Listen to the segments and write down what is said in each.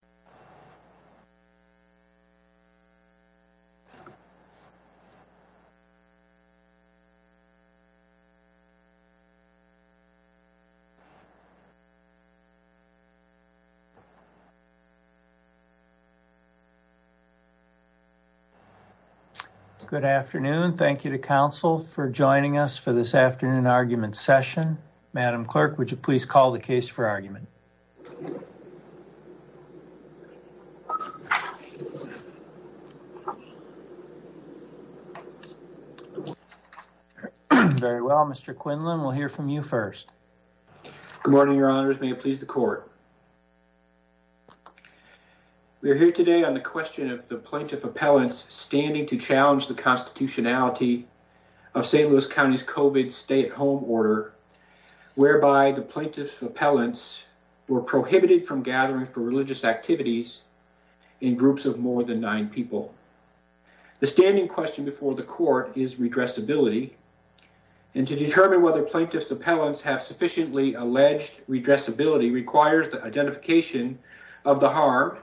to용 Good afternoon. Thank you to council for joining us for this morning's meeting of the Plaintiff's Appellants. Very well, Mr. Quinlan, we'll hear from you first. Good morning, your honors. May it please the court. We're here today on the question of the Plaintiff Appellants standing to challenge the constitutionality of St. Louis County's COVID stay at home order whereby the Plaintiff's Appellants were prohibited from gathering for religious activities in groups of more than nine people. The standing question before the court is redressability. And to determine whether Plaintiff's Appellants have sufficiently alleged redressability requires the identification of the harm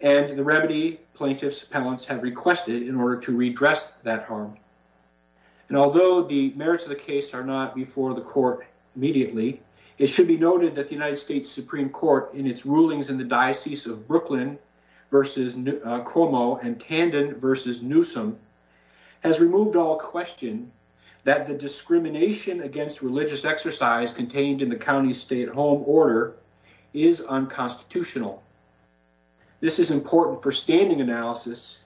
and the remedy Plaintiff's Appellants have requested in order to redress that harm. And although the merits of the case are not before the court immediately, it should be noted that the United States Supreme Court in its rulings in the Diocese of Brooklyn versus Cuomo and Tandon versus Newsom has removed all question that the discrimination against religious exercise contained in the county's stay at home order is unconstitutional. This is important for standing analysis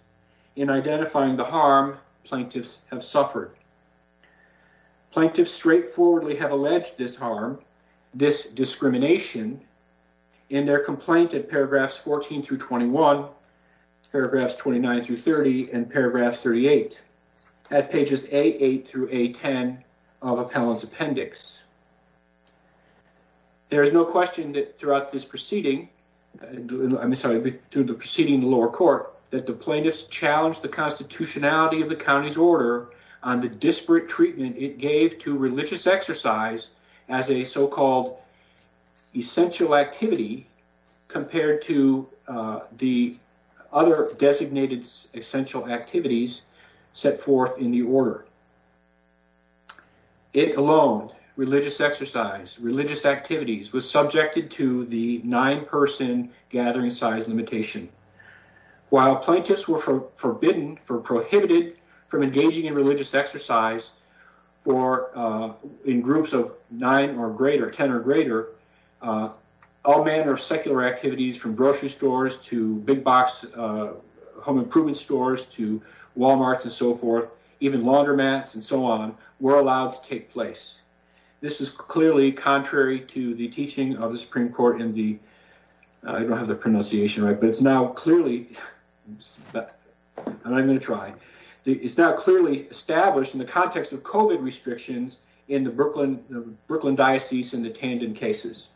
in identifying the harm Plaintiff's have suffered. Plaintiff's straightforwardly have alleged this harm, this discrimination in their complaint at paragraphs 14 through 21, paragraphs 29 through 30, and paragraphs 38 at pages A8 through A10 of Appellant's appendix. There is no question that throughout this proceeding, I'm sorry, through the proceeding in the lower court that the Plaintiff's challenged the constitutionality of the disparate treatment it gave to religious exercise as a so-called essential activity compared to the other designated essential activities set forth in the order. It alone, religious exercise, religious activities, was subjected to the nine-person gathering size limitation. While Plaintiff's were forbidden or prohibited from engaging in religious exercise in groups of nine or greater, ten or greater, all manner of secular activities from grocery stores to big box home improvement stores to Wal-Marts and so forth, even laundromats and so on, were allowed to take place. This is clearly contrary to the teaching of the Supreme Court in the, I don't have the pronunciation right, but it's now clearly, and I'm going to say this, it's now clearly established in the context of COVID restrictions in the Brooklyn diocese and the Tandon cases.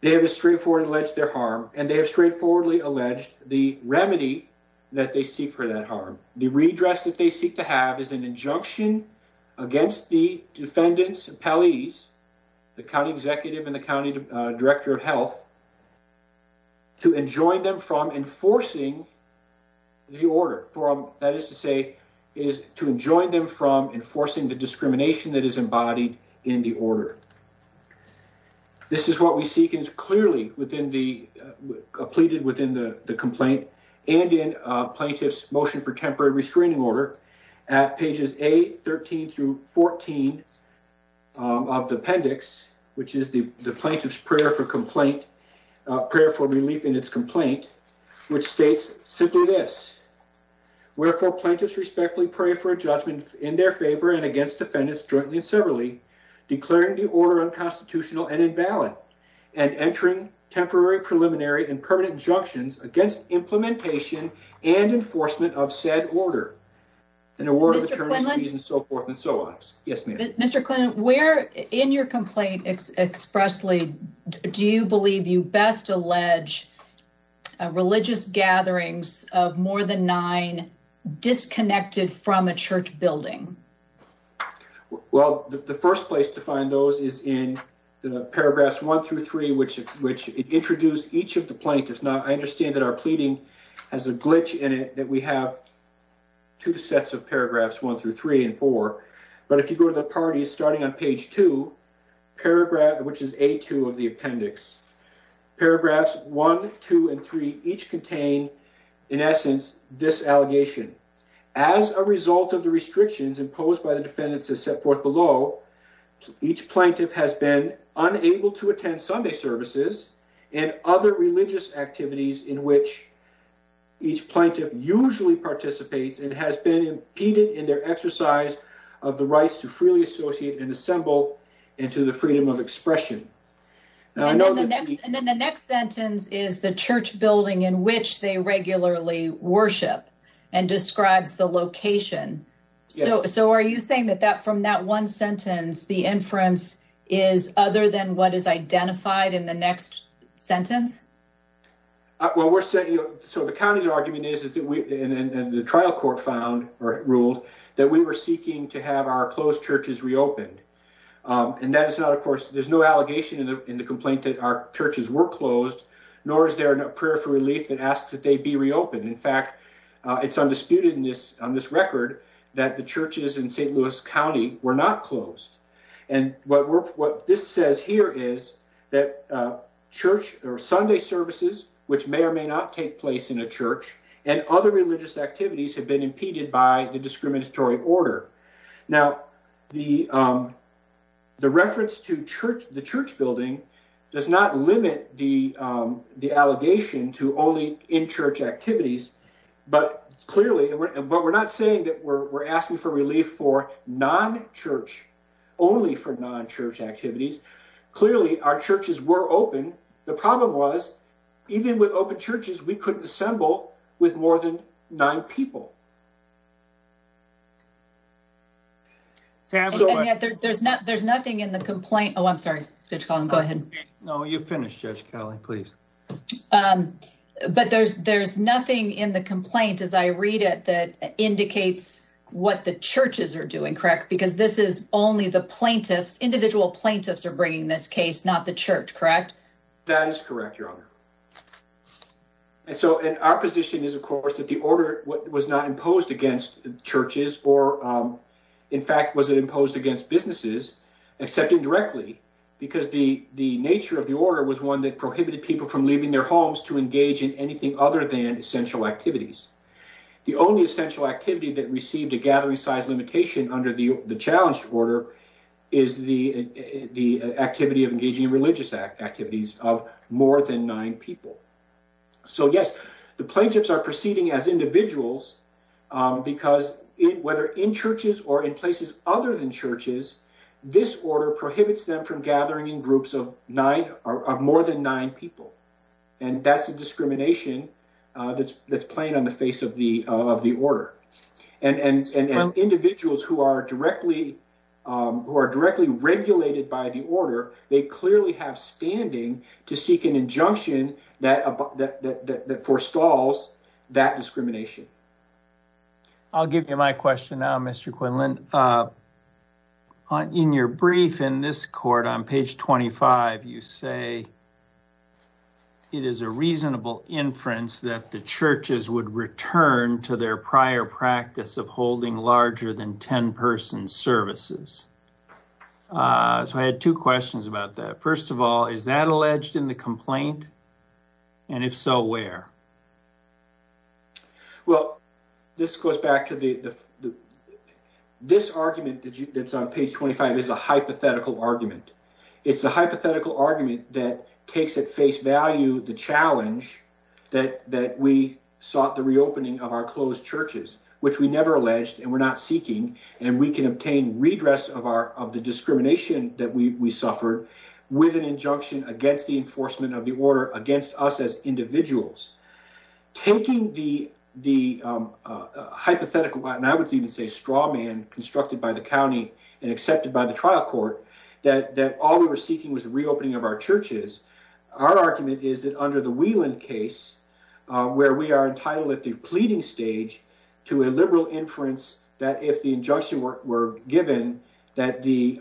They have straightforwardly alleged their harm, and they have straightforwardly alleged the remedy that they seek for that harm. The redress that they seek to have is an injunction against the defendants, appellees, the county executive and the county director of health, to enjoin them from enforcing the order, that is to say, to enjoin them from enforcing the discrimination that is embodied in the order. This is what we seek and it's clearly within the, pleaded within the complaint and in plaintiff's motion for temporary restraining order at pages A13 through 14 of the appendix, which is the plaintiff's prayer for complaint, prayer for relief in its complaint, which states simply this. Wherefore, plaintiffs respectfully pray for a judgment in their favor and against defendants jointly and severally, declaring the order unconstitutional and invalid, and entering temporary preliminary and permanent injunctions against implementation and enforcement of said order. And the word of attorneys and so forth and so on. Yes, ma'am. Mr. Quinlan, where in your complaint expressly do you believe you best allege religious gatherings of more than nine disconnected from a church building? Well, the first place to find those is in paragraphs one through three, which introduce each of the plaintiffs. Now, I understand that our pleading has a glitch in it that we have two sets of paragraphs, one through three and four. But if you go to the parties starting on page two, paragraph which is A2 of the appendix. Paragraphs one, two, and three each contain, in essence, this allegation. As a result of the restrictions imposed by the defendants as set forth below, each plaintiff has been unable to attend Sunday services and other religious activities in which each plaintiff usually participates and has been impeded in their exercise of the rights to freely associate and assemble and to the freedom of expression. And then the next sentence is the church building in which they regularly worship and describes the location. So are you saying that from that one sentence, the inference is other than what is identified in the next sentence? Well, so the county's argument is, and the trial court ruled, that we were seeking to have our closed churches reopened. And that is not, of course, there's no allegation in the complaint that our churches were closed, nor is there a prayer for relief that asks that they be reopened. In fact, it's undisputed on this record that the churches in St. Louis County were not closed. And what this says here is that church or Sunday services, which may or may not take place in a church, and other religious activities have been impeded by the discriminatory order. Now, the reference to the church building does not limit the allegation to only in-church activities, but clearly, but we're not saying that we're asking for relief for non-church, only for non-church activities. Clearly, our churches were open. The problem was, even with open churches, we couldn't assemble with more than nine people. There's nothing in the complaint, as I read it, that indicates what the churches are doing, correct? Because this is only the plaintiffs, individual plaintiffs are bringing this case, not the church, correct? That is correct, Your Honor. And so, our position is, of course, that the order was not fact, was it imposed against businesses, except indirectly, because the churches were not closed. The nature of the order was one that prohibited people from leaving their homes to engage in anything other than essential activities. The only essential activity that received a gathering size limitation under the challenged order is the activity of engaging in religious activities of more than nine people. So, yes, the plaintiffs are proceeding as individuals, because whether in churches or in places other than churches, this order prohibits them from engaging in religious activities of more than nine people. And that's a discrimination that's playing on the face of the order. And as individuals who are directly regulated by the order, they clearly have standing to seek an injunction that forestalls that discrimination. I'll give you my question now, Mr. Quinlan. In your brief, in this court, on page 25 of your brief, you say it is a reasonable inference that the churches would return to their prior practice of holding larger than ten-person services. So I had two questions about that. First of all, is that alleged in the complaint? And if so, where? Well, this goes back to the is a hypothetical argument. It's a hypothetical argument that the church is not It's a hypothetical argument that takes at face value the challenge that we sought the reopening of our closed churches, which we never alleged and we're not seeking, and we can obtain redress of the discrimination that we suffered with an injunction against the enforcement of the order against us as individuals. Taking the hypothetical, and I would even say straw man constructed by the county and that all we were seeking was the reopening of our churches. Our argument is that under the Whelan case, where we are entitled at the pleading stage to a liberal inference that if the injunction were given, that the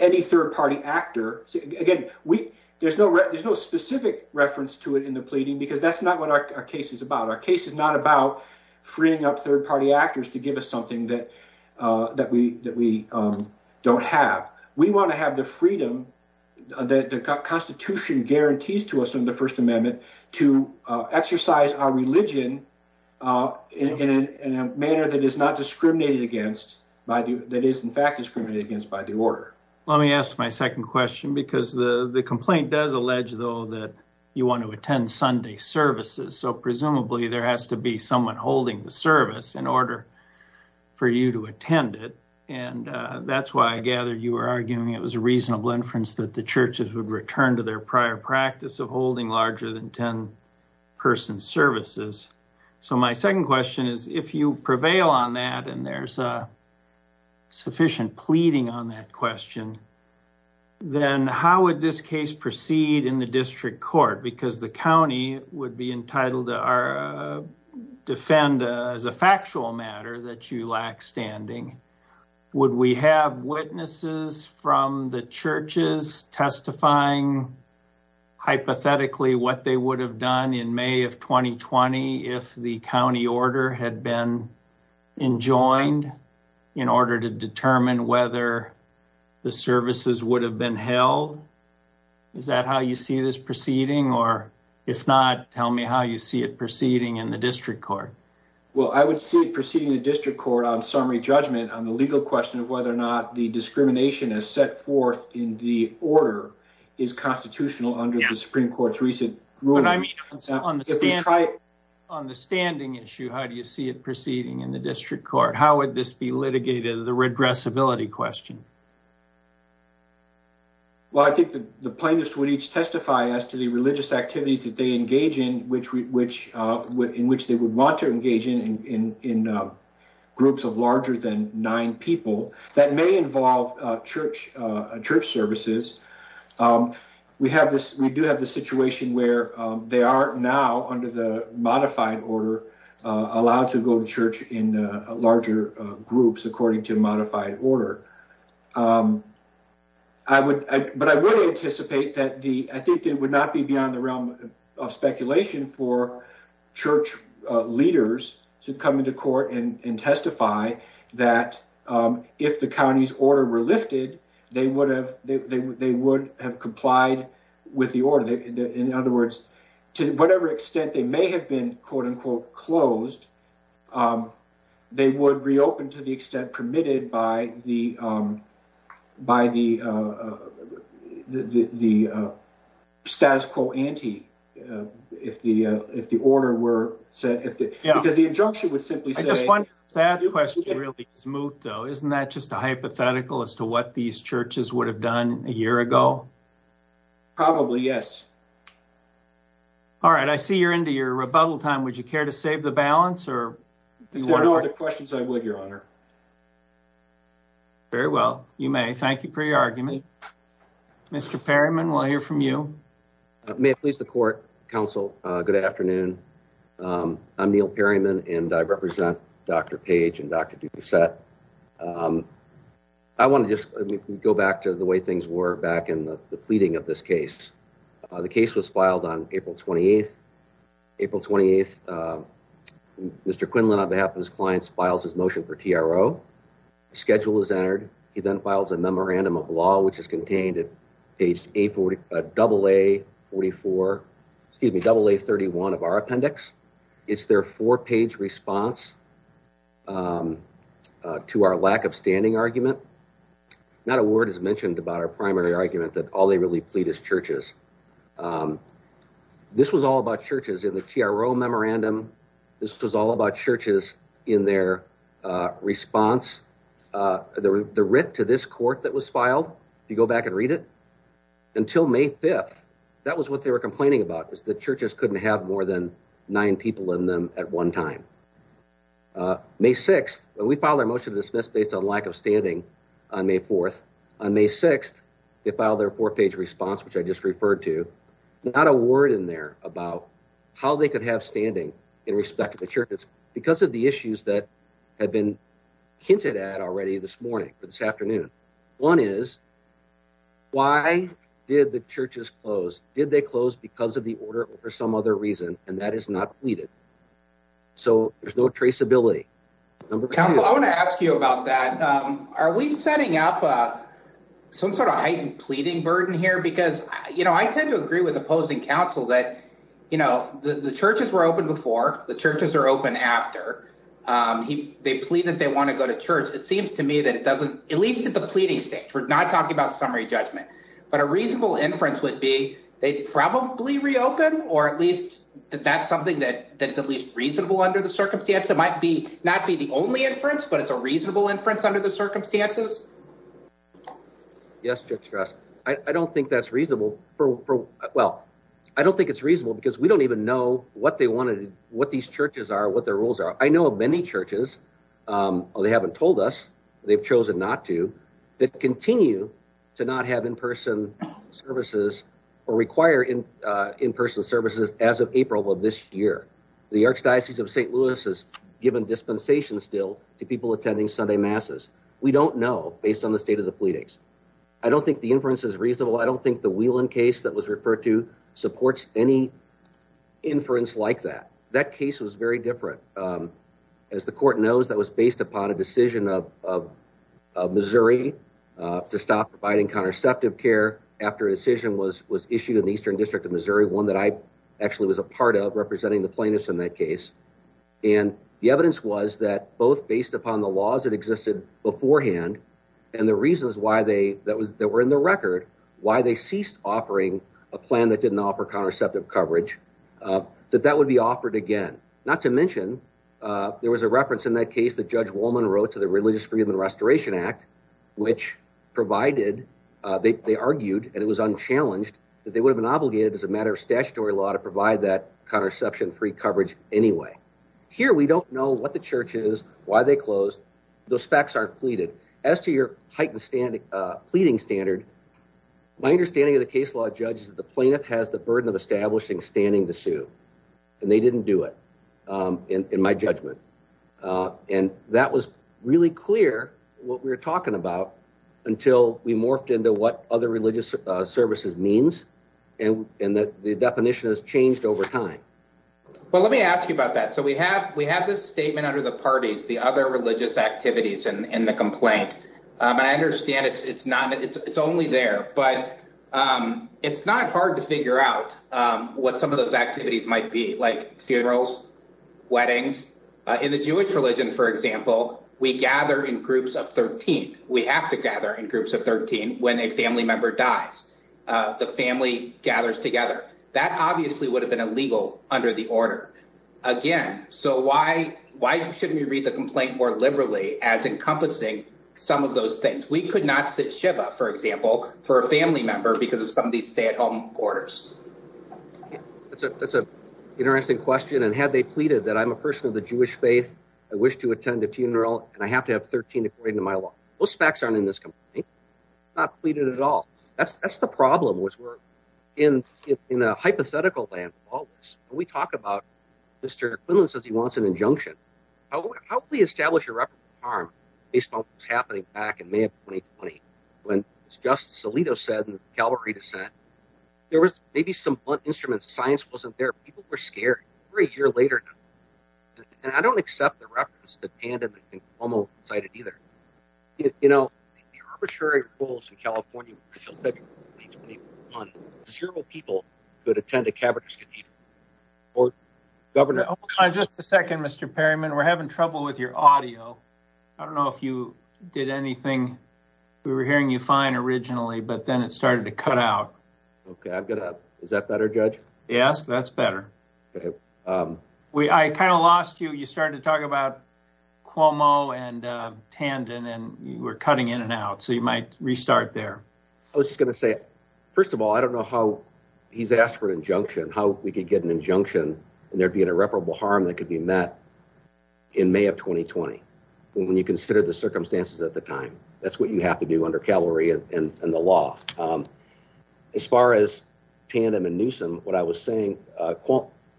any third-party actor Again, there's no specific reference to it in the pleading because that's not what our case is about. Our case is not about freeing up third-party actors to give us something that we don't have. We want to have the freedom that the Constitution guarantees to us in the First Amendment to exercise our religion in a manner that is not discriminated against, that is in fact discriminated against by the order. Let me ask my second question because the complaint does allege though that you want to attend Sunday services, so presumably there has to be someone holding the service in order for you to attend it. That's why I gather you were arguing it was a reasonable inference that the churches would return to their prior practice of holding larger than ten-person services. My second question is, if you prevail on that and there's sufficient pleading on that question, then how would this case proceed in the district court? Because the county would be entitled to defend as a factual matter that you lack standing. Would we have witnesses from the churches testifying hypothetically what they would have done in May of 2020 if the county order had been enjoined in order to determine whether the services would have been held? Is that how you see this proceeding? If not, tell me how you see it proceeding in the district court. I would see it proceeding in the district court on summary judgment on the legal question of whether or not the discrimination as set forth in the order is constitutional under the Supreme Court's recent ruling. On the standing issue, how do you see it proceeding in the district court? How would this be litigated as a regressibility question? I think the plaintiffs would each testify as to the religious activities that they engage in which they would want to engage in in groups of larger than nine people that may involve church services. We do have the situation where they are now, under the modified order, allowed to go to church in larger groups according to modified order. But I would anticipate that I think it would not be beyond the realm of speculation for church leaders to come into court and testify that if the county's order were lifted, they would have complied with the order. In other words, to whatever extent they may have been closed, they would reopen to the extent permitted by the status quo ante if the order were set. Because the injunction would simply say... I just wonder if that question really is moot, though. Isn't that just a hypothetical as to what these churches would have done a year ago? Probably, yes. All right. I see you're into your rebuttal time. Would you care to save the balance? If there are no other questions, I would, Your Honor. Very well. You may. Thank you for your argument. Mr. Perryman, we'll hear from you. May it please the Court, Counsel, good afternoon. I'm Neil Perryman, and I represent Dr. Page and Dr. Doucette. I want to just go back to the way things were back in the pleading of this case. The case was filed on April 28th. April 28th, Mr. Quinlan, on behalf of his clients, files his motion for TRO. Schedule is entered. He then files a memorandum of law, which is contained at page AA31 of our appendix. It's their four-page response to our lack of standing argument. Not a word is mentioned about our primary argument that all they really plead is churches. This was all about churches. As in the TRO memorandum, this was all about churches in their response. The writ to this court that was filed, if you go back and read it, until May 5th, that was what they were complaining about, that churches couldn't have more than nine people in them at one time. May 6th, we filed our motion to dismiss based on lack of standing on May 4th. On May 6th, they filed their four-page response, which I just referred to. Not a word in there about how they could have standing in respect to the churches because of the issues that have been hinted at already this morning, this afternoon. One is, why did the churches close? Did they close because of the order or for some other reason, and that is not pleaded? There's no traceability. Council, I want to ask you about that. Are we setting up some sort of heightened pleading burden here? I tend to agree with opposing counsel that the churches were open before, the churches are open after. They plead that they want to go to church. It seems to me that it doesn't, at least at the pleading stage, we're not talking about summary judgment, but a reasonable inference would be they probably reopened, or at least that's something that is at least reasonable under the circumstance. It might not be the only inference, but it's a reasonable inference under the circumstances. Yes, I don't think that's reasonable. I don't think it's reasonable because we don't even know what these churches are, what their rules are. I know of many churches, they haven't told us, they've chosen not to, that continue to not have in-person services or require in-person services as of April of this year. The Archdiocese of St. Louis has given dispensation still to people attending Sunday Masses. We don't know, based on the state of the pleadings. I don't think the inference is reasonable. I don't think the Whelan case that was referred to supports any inference like that. That case was very different. As the court knows, that was based upon a decision of Missouri to stop providing contraceptive care after a decision was issued in the Eastern District of Missouri, one that I actually was a part of, representing the plaintiffs in that case. And the evidence was that both based upon the laws that existed beforehand and the reasons that were in the record, why they ceased offering a plan that didn't offer contraceptive coverage, that that would be offered again. Not to mention there was a reference in that case that Judge Wolman wrote to the Religious Freedom and Restoration Act, which provided, they argued and it was unchallenged, that they would have been obligated as a matter of statutory law to provide that contraception-free coverage anyway. Here we don't know what the church is, why they closed, those facts aren't pleaded. As to your heightened pleading standard, my understanding of the case law, Judge, is that the plaintiff has the burden of establishing standing to sue. And they didn't do it, in my judgment. And that was really clear until we morphed into what other religious services means and that the definition has changed over time. Well, let me ask you about that. So we have this statement under the parties, the other religious activities in the complaint, and I understand it's only there, but it's not hard to figure out what some of those activities might be, like funerals, weddings. In the Jewish religion, for example, we gather in groups of 13. We have to gather in groups of 13 when a family member dies. The family gathers together. That obviously would have been illegal under the order. Again, so why shouldn't we read the complaint more liberally as encompassing some of those things? We could not sit shiva, for example, for a family member because of some of these stay-at-home orders. That's an interesting question, and had they pleaded that I'm a person of the Jewish faith, I wish to attend a funeral, and I have to have 13 according to my law. Those facts aren't in this complaint. Not pleaded at all. That's the problem, which we're in a hypothetical land of all this. When we talk about Mr. Quinlan says he wants an injunction, how can we establish a record of harm based on what was happening back in May of 2020 when Justice Alito said in the Calvary dissent, there was maybe some blunt instruments. Science wasn't there. People were scared. A year later, and I don't accept the reference that Panda and Cuomo cited either. You know, the arbitrary rules in California until February 2021, zero people could attend a cavernous cathedral. Governor... Hold on just a second, Mr. Perryman. We're having trouble with your audio. I don't know if you did anything. We were hearing you fine originally, but then it started to cut out. Okay, I've got to... Is that better, Judge? Yes, that's better. Okay. I kind of lost you. You started to talk about Cuomo and Tandon, and you were cutting in and out, so you might restart there. I was just going to say, first of all, I don't know how he's asked for an injunction, how we could get an injunction and there be an irreparable harm that could be met in May of 2020 when you consider the circumstances at the time. That's what you have to do under Calvary and the law. As far as Tandon and Newsom, what I was saying,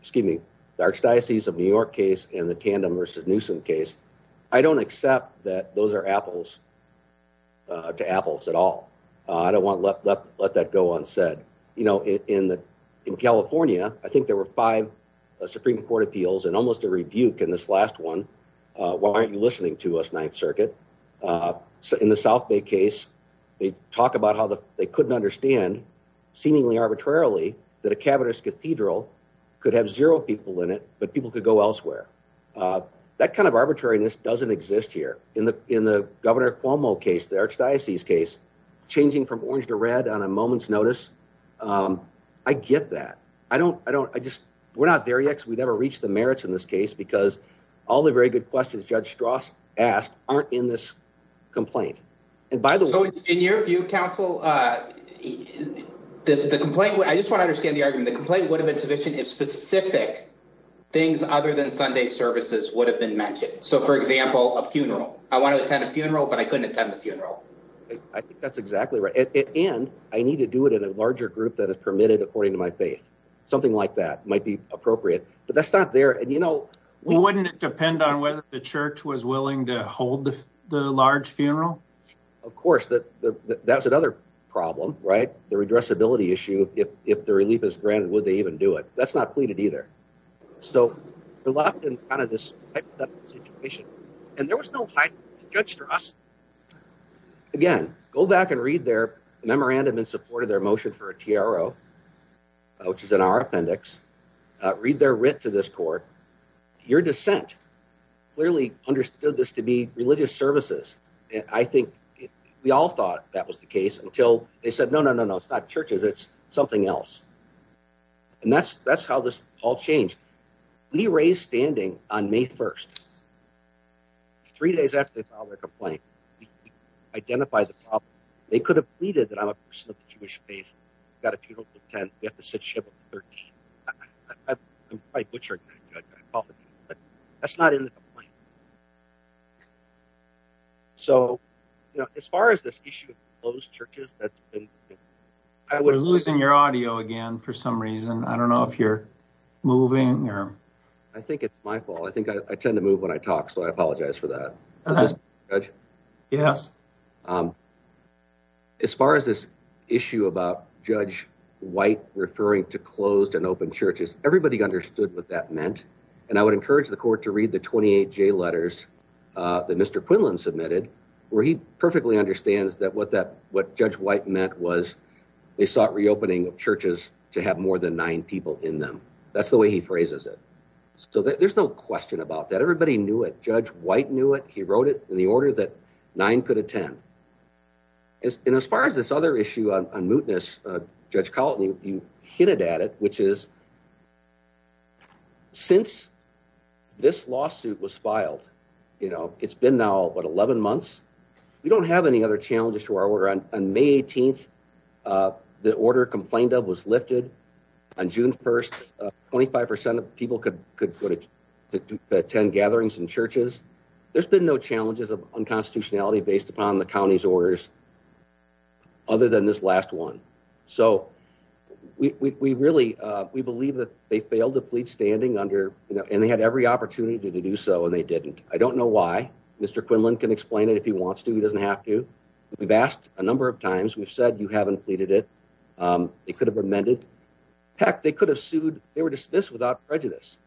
excuse me, the Archdiocese of New York case and the Tandon versus Newsom case, I don't think that those are apples to apples at all. I don't want to let that go unsaid. You know, in California, I think there were five Supreme Court appeals and almost a rebuke in this last one. Why aren't you listening to us, Ninth Circuit? In the South Bay case, they talk about how they couldn't understand, seemingly arbitrarily, that a cavernous cathedral could have zero people in it, but people could go elsewhere. That kind of arbitrariness doesn't exist here. In the Governor Cuomo case, the Archdiocese case, changing from orange to red on a moment's notice, I get that. We're not there yet because we never reached the merits in this case because all the very good questions Judge Strauss asked aren't in this complaint. In your view, counsel, I just want to understand the argument. The complaint would have been sufficient if specific things other than Sunday services would have been mentioned. So, for example, a funeral. I want to attend a funeral, but I couldn't attend the funeral. I think that's exactly right. And I need to do it in a larger group that is permitted according to my faith. Something like that might be appropriate. But that's not there. Wouldn't it depend on whether the church was willing to hold the large funeral? Of course. That's another problem, right? The redressability issue. If the relief is granted, would they even do it? That's not pleaded either. So, we're locked in kind of this hypothetical situation. And there was no height, Judge Strauss. Again, go back and read their memorandum in support of their motion for a TRO, which is in our appendix. Read their writ to this court. Your dissent clearly understood this to be religious services. I think we all thought that was the case until they said, no, no, no, no, it's not churches. It's something else. And that's how this all changed. We raised standing on May 1st. Three days after they filed their complaint, we identified the problem. They could have pleaded that I'm a person of the Jewish faith, got a funeral to attend, we have to sit ship on the 13th. I'm quite butchering that. That's not in the complaint. So, as far as this issue of closed churches... We're losing your audio again for some reason. I don't know if you're moving. I think it's my fault. I tend to move when I talk, so I apologize for that. As far as this issue about Judge White referring to closed and open churches, everybody understood what that meant. And I would encourage the court to read the 28 J letters that Mr. White wrote. He specifically understands that what Judge White meant was they sought reopening of churches to have more than nine people in them. That's the way he phrases it. There's no question about that. Everybody knew it. Judge White knew it. He wrote it in the order that nine could attend. And as far as this other issue on mootness, Judge Colleton, you hit it at it, which is since this lawsuit was filed. It's been now 11 months. We don't have any other challenges to our order. On May 18th, the order complained of was lifted. On June 1st, 25% of people could attend gatherings in churches. There's been no challenges of unconstitutionality based upon the county's orders other than this last one. We really believe that they failed to plead standing under, and they had every opportunity to do so, and they didn't. I don't know why. Mr. Quinlan can explain it if he wants to. He doesn't have to. We've asked a number of times. We've said you haven't pleaded it. They could have amended. Heck, they could have sued. They were dismissed without prejudice.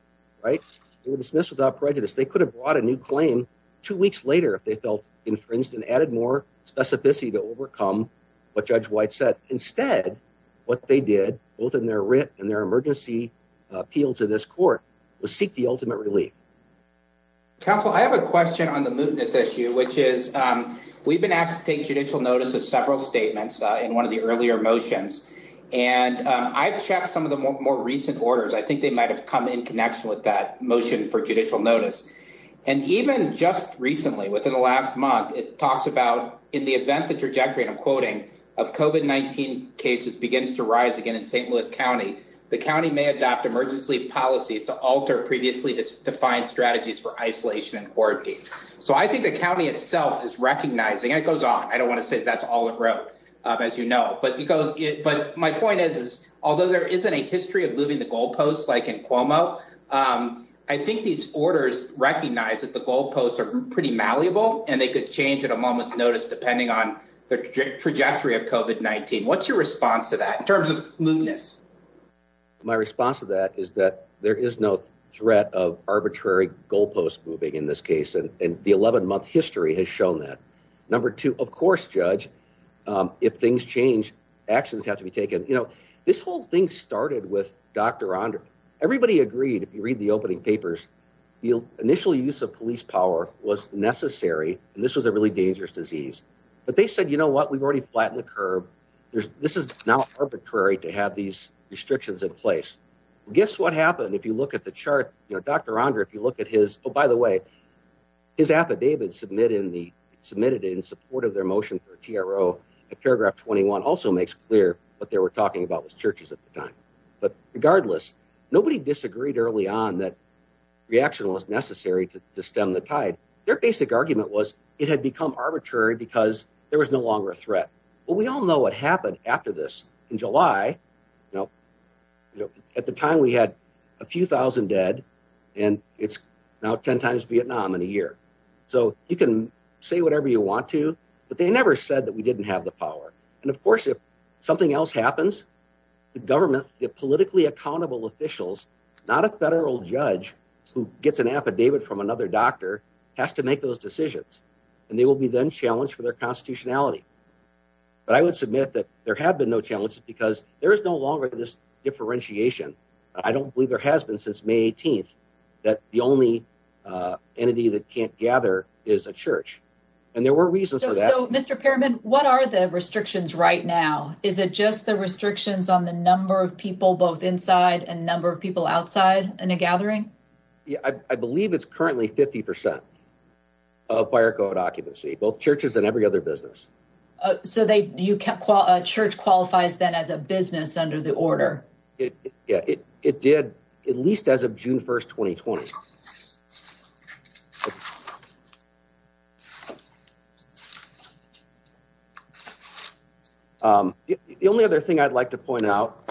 They were dismissed without prejudice. They could have brought a new claim two weeks later if they felt infringed and added more specificity to overcome what Judge White said. Instead, what they did, both in their writ and their emergency appeal to this court, was seek the ultimate relief. Counsel, I have a question on the mootness issue, which is we've been asked to take judicial notice of several statements in one of the earlier motions, and I've checked some of the more recent orders. I think they might have come in connection with that motion for judicial notice, and even just recently, within the last month, it talks about in the event the trajectory, and I'm quoting, of COVID-19 cases begins to rise again in St. Louis County, the county may adopt emergency policies to alter previously defined strategies for isolation and quarantine. So I think the county itself is recognizing, and it goes on, I don't want to say that's all it wrote, as you know, but my point is, although there isn't a history of moving the goalposts like in Cuomo, I think these orders recognize that the goalposts are pretty malleable and they could change at a moment's notice depending on the trajectory of COVID-19. What's your response to that in terms of moveness? My response to that is that there is no threat of arbitrary goalposts moving in this case, and the 11-month history has shown that. Number two, of course, Judge, if things change, actions have to be taken. You know, this whole thing started with Dr. Onder. Everybody agreed, if you read the opening papers, the initial use of police power was necessary, and this was a really dangerous disease. But they said, you know what, we've already flattened the curve. This is now arbitrary to have these restrictions in place. Guess what happened if you look at the chart? You know, Dr. Onder, if you look at his, oh, by the way, his affidavit submitted in support of their motion for TRO at paragraph 21 also makes clear what they were talking about was churches at the time. But regardless, nobody disagreed early on that reaction was necessary to stem the tide. Their basic argument was it had become arbitrary because there was no longer a threat. But we all know what happened after this. In July, at the time we had a few thousand dead, and it's now 10 times Vietnam in a year. So you can say whatever you want to, but they never said that we didn't have the power. And of course, if something else happens, the government, the politically accountable officials, not a federal judge who gets an affidavit from another doctor, has to make those decisions. And they will be then challenged for their constitutionality. But I would submit that there have been no challenges because there is no longer this differentiation. I don't believe there has been since May 18th that the only entity that can't gather is a church. And there were reasons for that. So, Mr. Pearman, what are the restrictions right now? Is it just the restrictions on the number of people both inside and number of people outside in a currently 50% of fire code occupancy, both churches and every other business. So a church qualifies then as a business under the order? Yeah, it did at least as of June 1st, 2020. The only other thing I'd like to point out,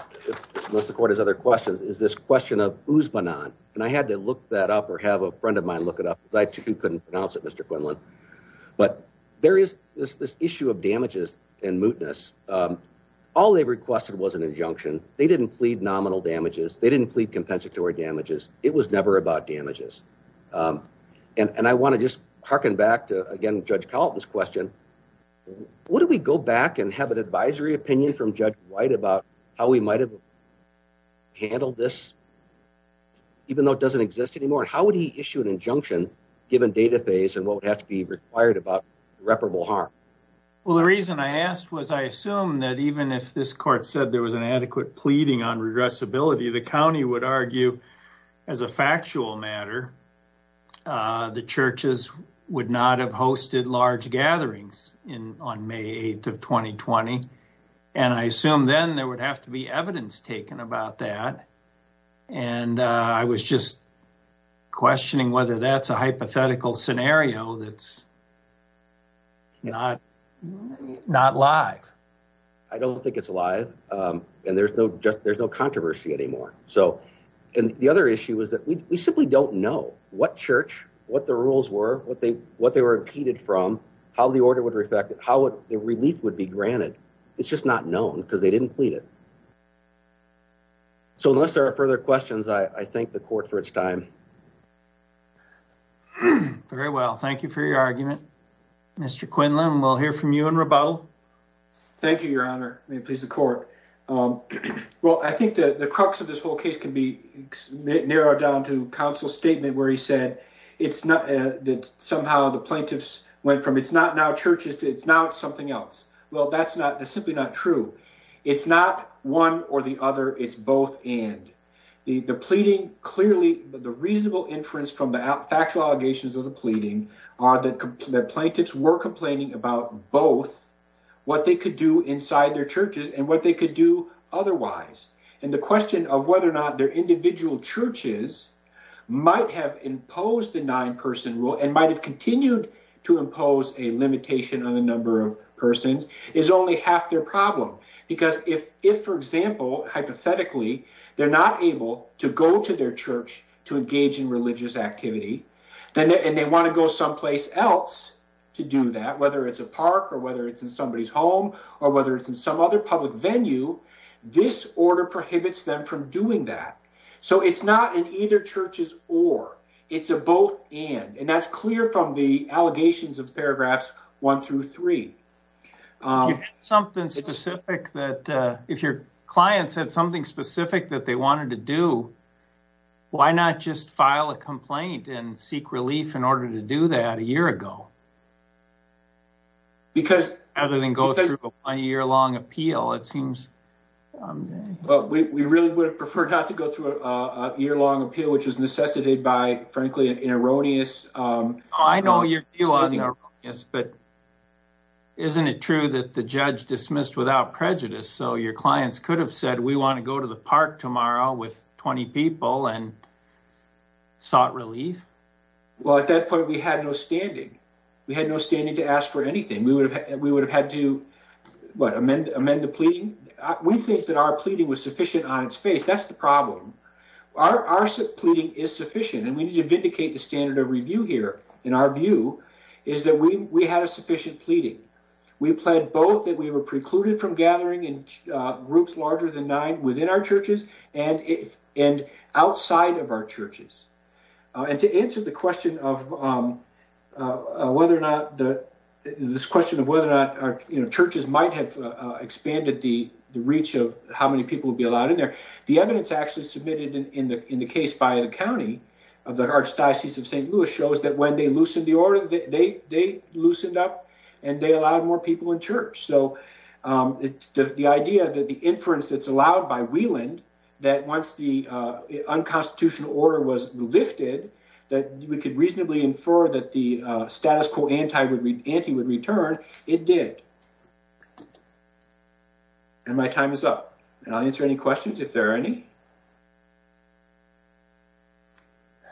unless the court has other questions, is this question of Usbanon. And I had to look that up or have a friend of mine look it up because I, too, couldn't pronounce it, Mr. Quinlan. But there is this issue of damages and mootness. All they requested was an injunction. They didn't plead nominal damages. They didn't plead compensatory damages. It was never about damages. And I want to just hearken back to, again, Judge Colleton's question. Would we go back and have an advisory opinion from Judge White about how we might have handled this even though it doesn't exist anymore? How would he issue an injunction, given database and what would have to be required about irreparable harm? Well, the reason I asked was I assume that even if this court said there was an adequate pleading on regressibility, the county would argue as a factual matter the churches would not have hosted large gatherings on May 8th of 2020. And I assume then there would have to be evidence taken about that. And I was just questioning whether that's a hypothetical scenario that's not live. I don't think it's live. And there's no controversy anymore. And the other issue is that we simply don't know what church, what the rules were, what they were impeded from, how the order would reflect, how the relief would be granted. It's just not known because they didn't plead it. So unless there are further questions, I thank the court for its time. Very well. Thank you for your argument. Mr. Quinlan, we'll hear from you in rebuttal. Thank you, Your Honor. May it please the court. Well, I think that the crux of this whole case can be narrowed down to counsel's statement where he said it's not that somehow the plaintiffs went from it's not now churches to it's now something else. Well, that's simply not true. It's not one or the other. It's both and. The pleading clearly, the reasonable inference from the factual allegations of the pleading are that plaintiffs were complaining about both what they could do inside their churches and what they could do otherwise. And the question of whether or not their individual churches might have imposed the nine-person rule and might have continued to impose a limitation on the number of persons is only half their problem. Because if, for example, hypothetically, they're not able to go to their church to engage in religious activity and they want to go someplace else to do that, whether it's a park or whether it's in somebody's home or whether it's in some other public venue, this order prohibits them from doing that. So it's not in either churches or. It's a both and. And that's clear from the allegations of paragraphs one through three. If you had something specific that, if your client said something specific that they wanted to do, why not just file a complaint and seek relief in order to do that a year ago? Because... Other than go through a year-long appeal, it seems... We really would have preferred not to go through a year-long appeal, which was necessitated by, frankly, an erroneous statement. I know you feel erroneous, but isn't it true that the judge dismissed without prejudice? So your clients could have said, we want to go to the park tomorrow with 20 people and sought relief? Well, at that point, we had no standing. We had no standing to ask for anything. We would have had to amend the pleading. We think that our pleading was sufficient on its face. That's the problem. Our pleading is sufficient and we need to vindicate the standard of review here. And our view is that we had a sufficient pleading. We pled both that we were precluded from gathering in groups larger than nine within our churches and outside of our churches. And to answer the question of whether or not churches might have expanded the status quo, the evidence actually submitted in the case by the county of the Archdiocese of St. Louis shows that when they loosened the order, they loosened up and they allowed more people in church. So the idea that the inference that's allowed by Wieland, that once the unconstitutional order was lifted, that we could reasonably infer that the status quo would return, it did. Any questions, if there are any?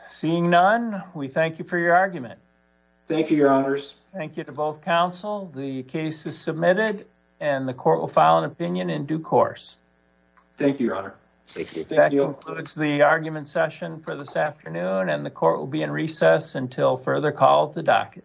Seeing none, we thank you for your argument. Thank you, Your Honors. Thank you to both counsel. The case is submitted and the court will file an opinion in due course. Thank you, Your Honor. That concludes the argument session for this afternoon and the court will be in recess until further call at the docket.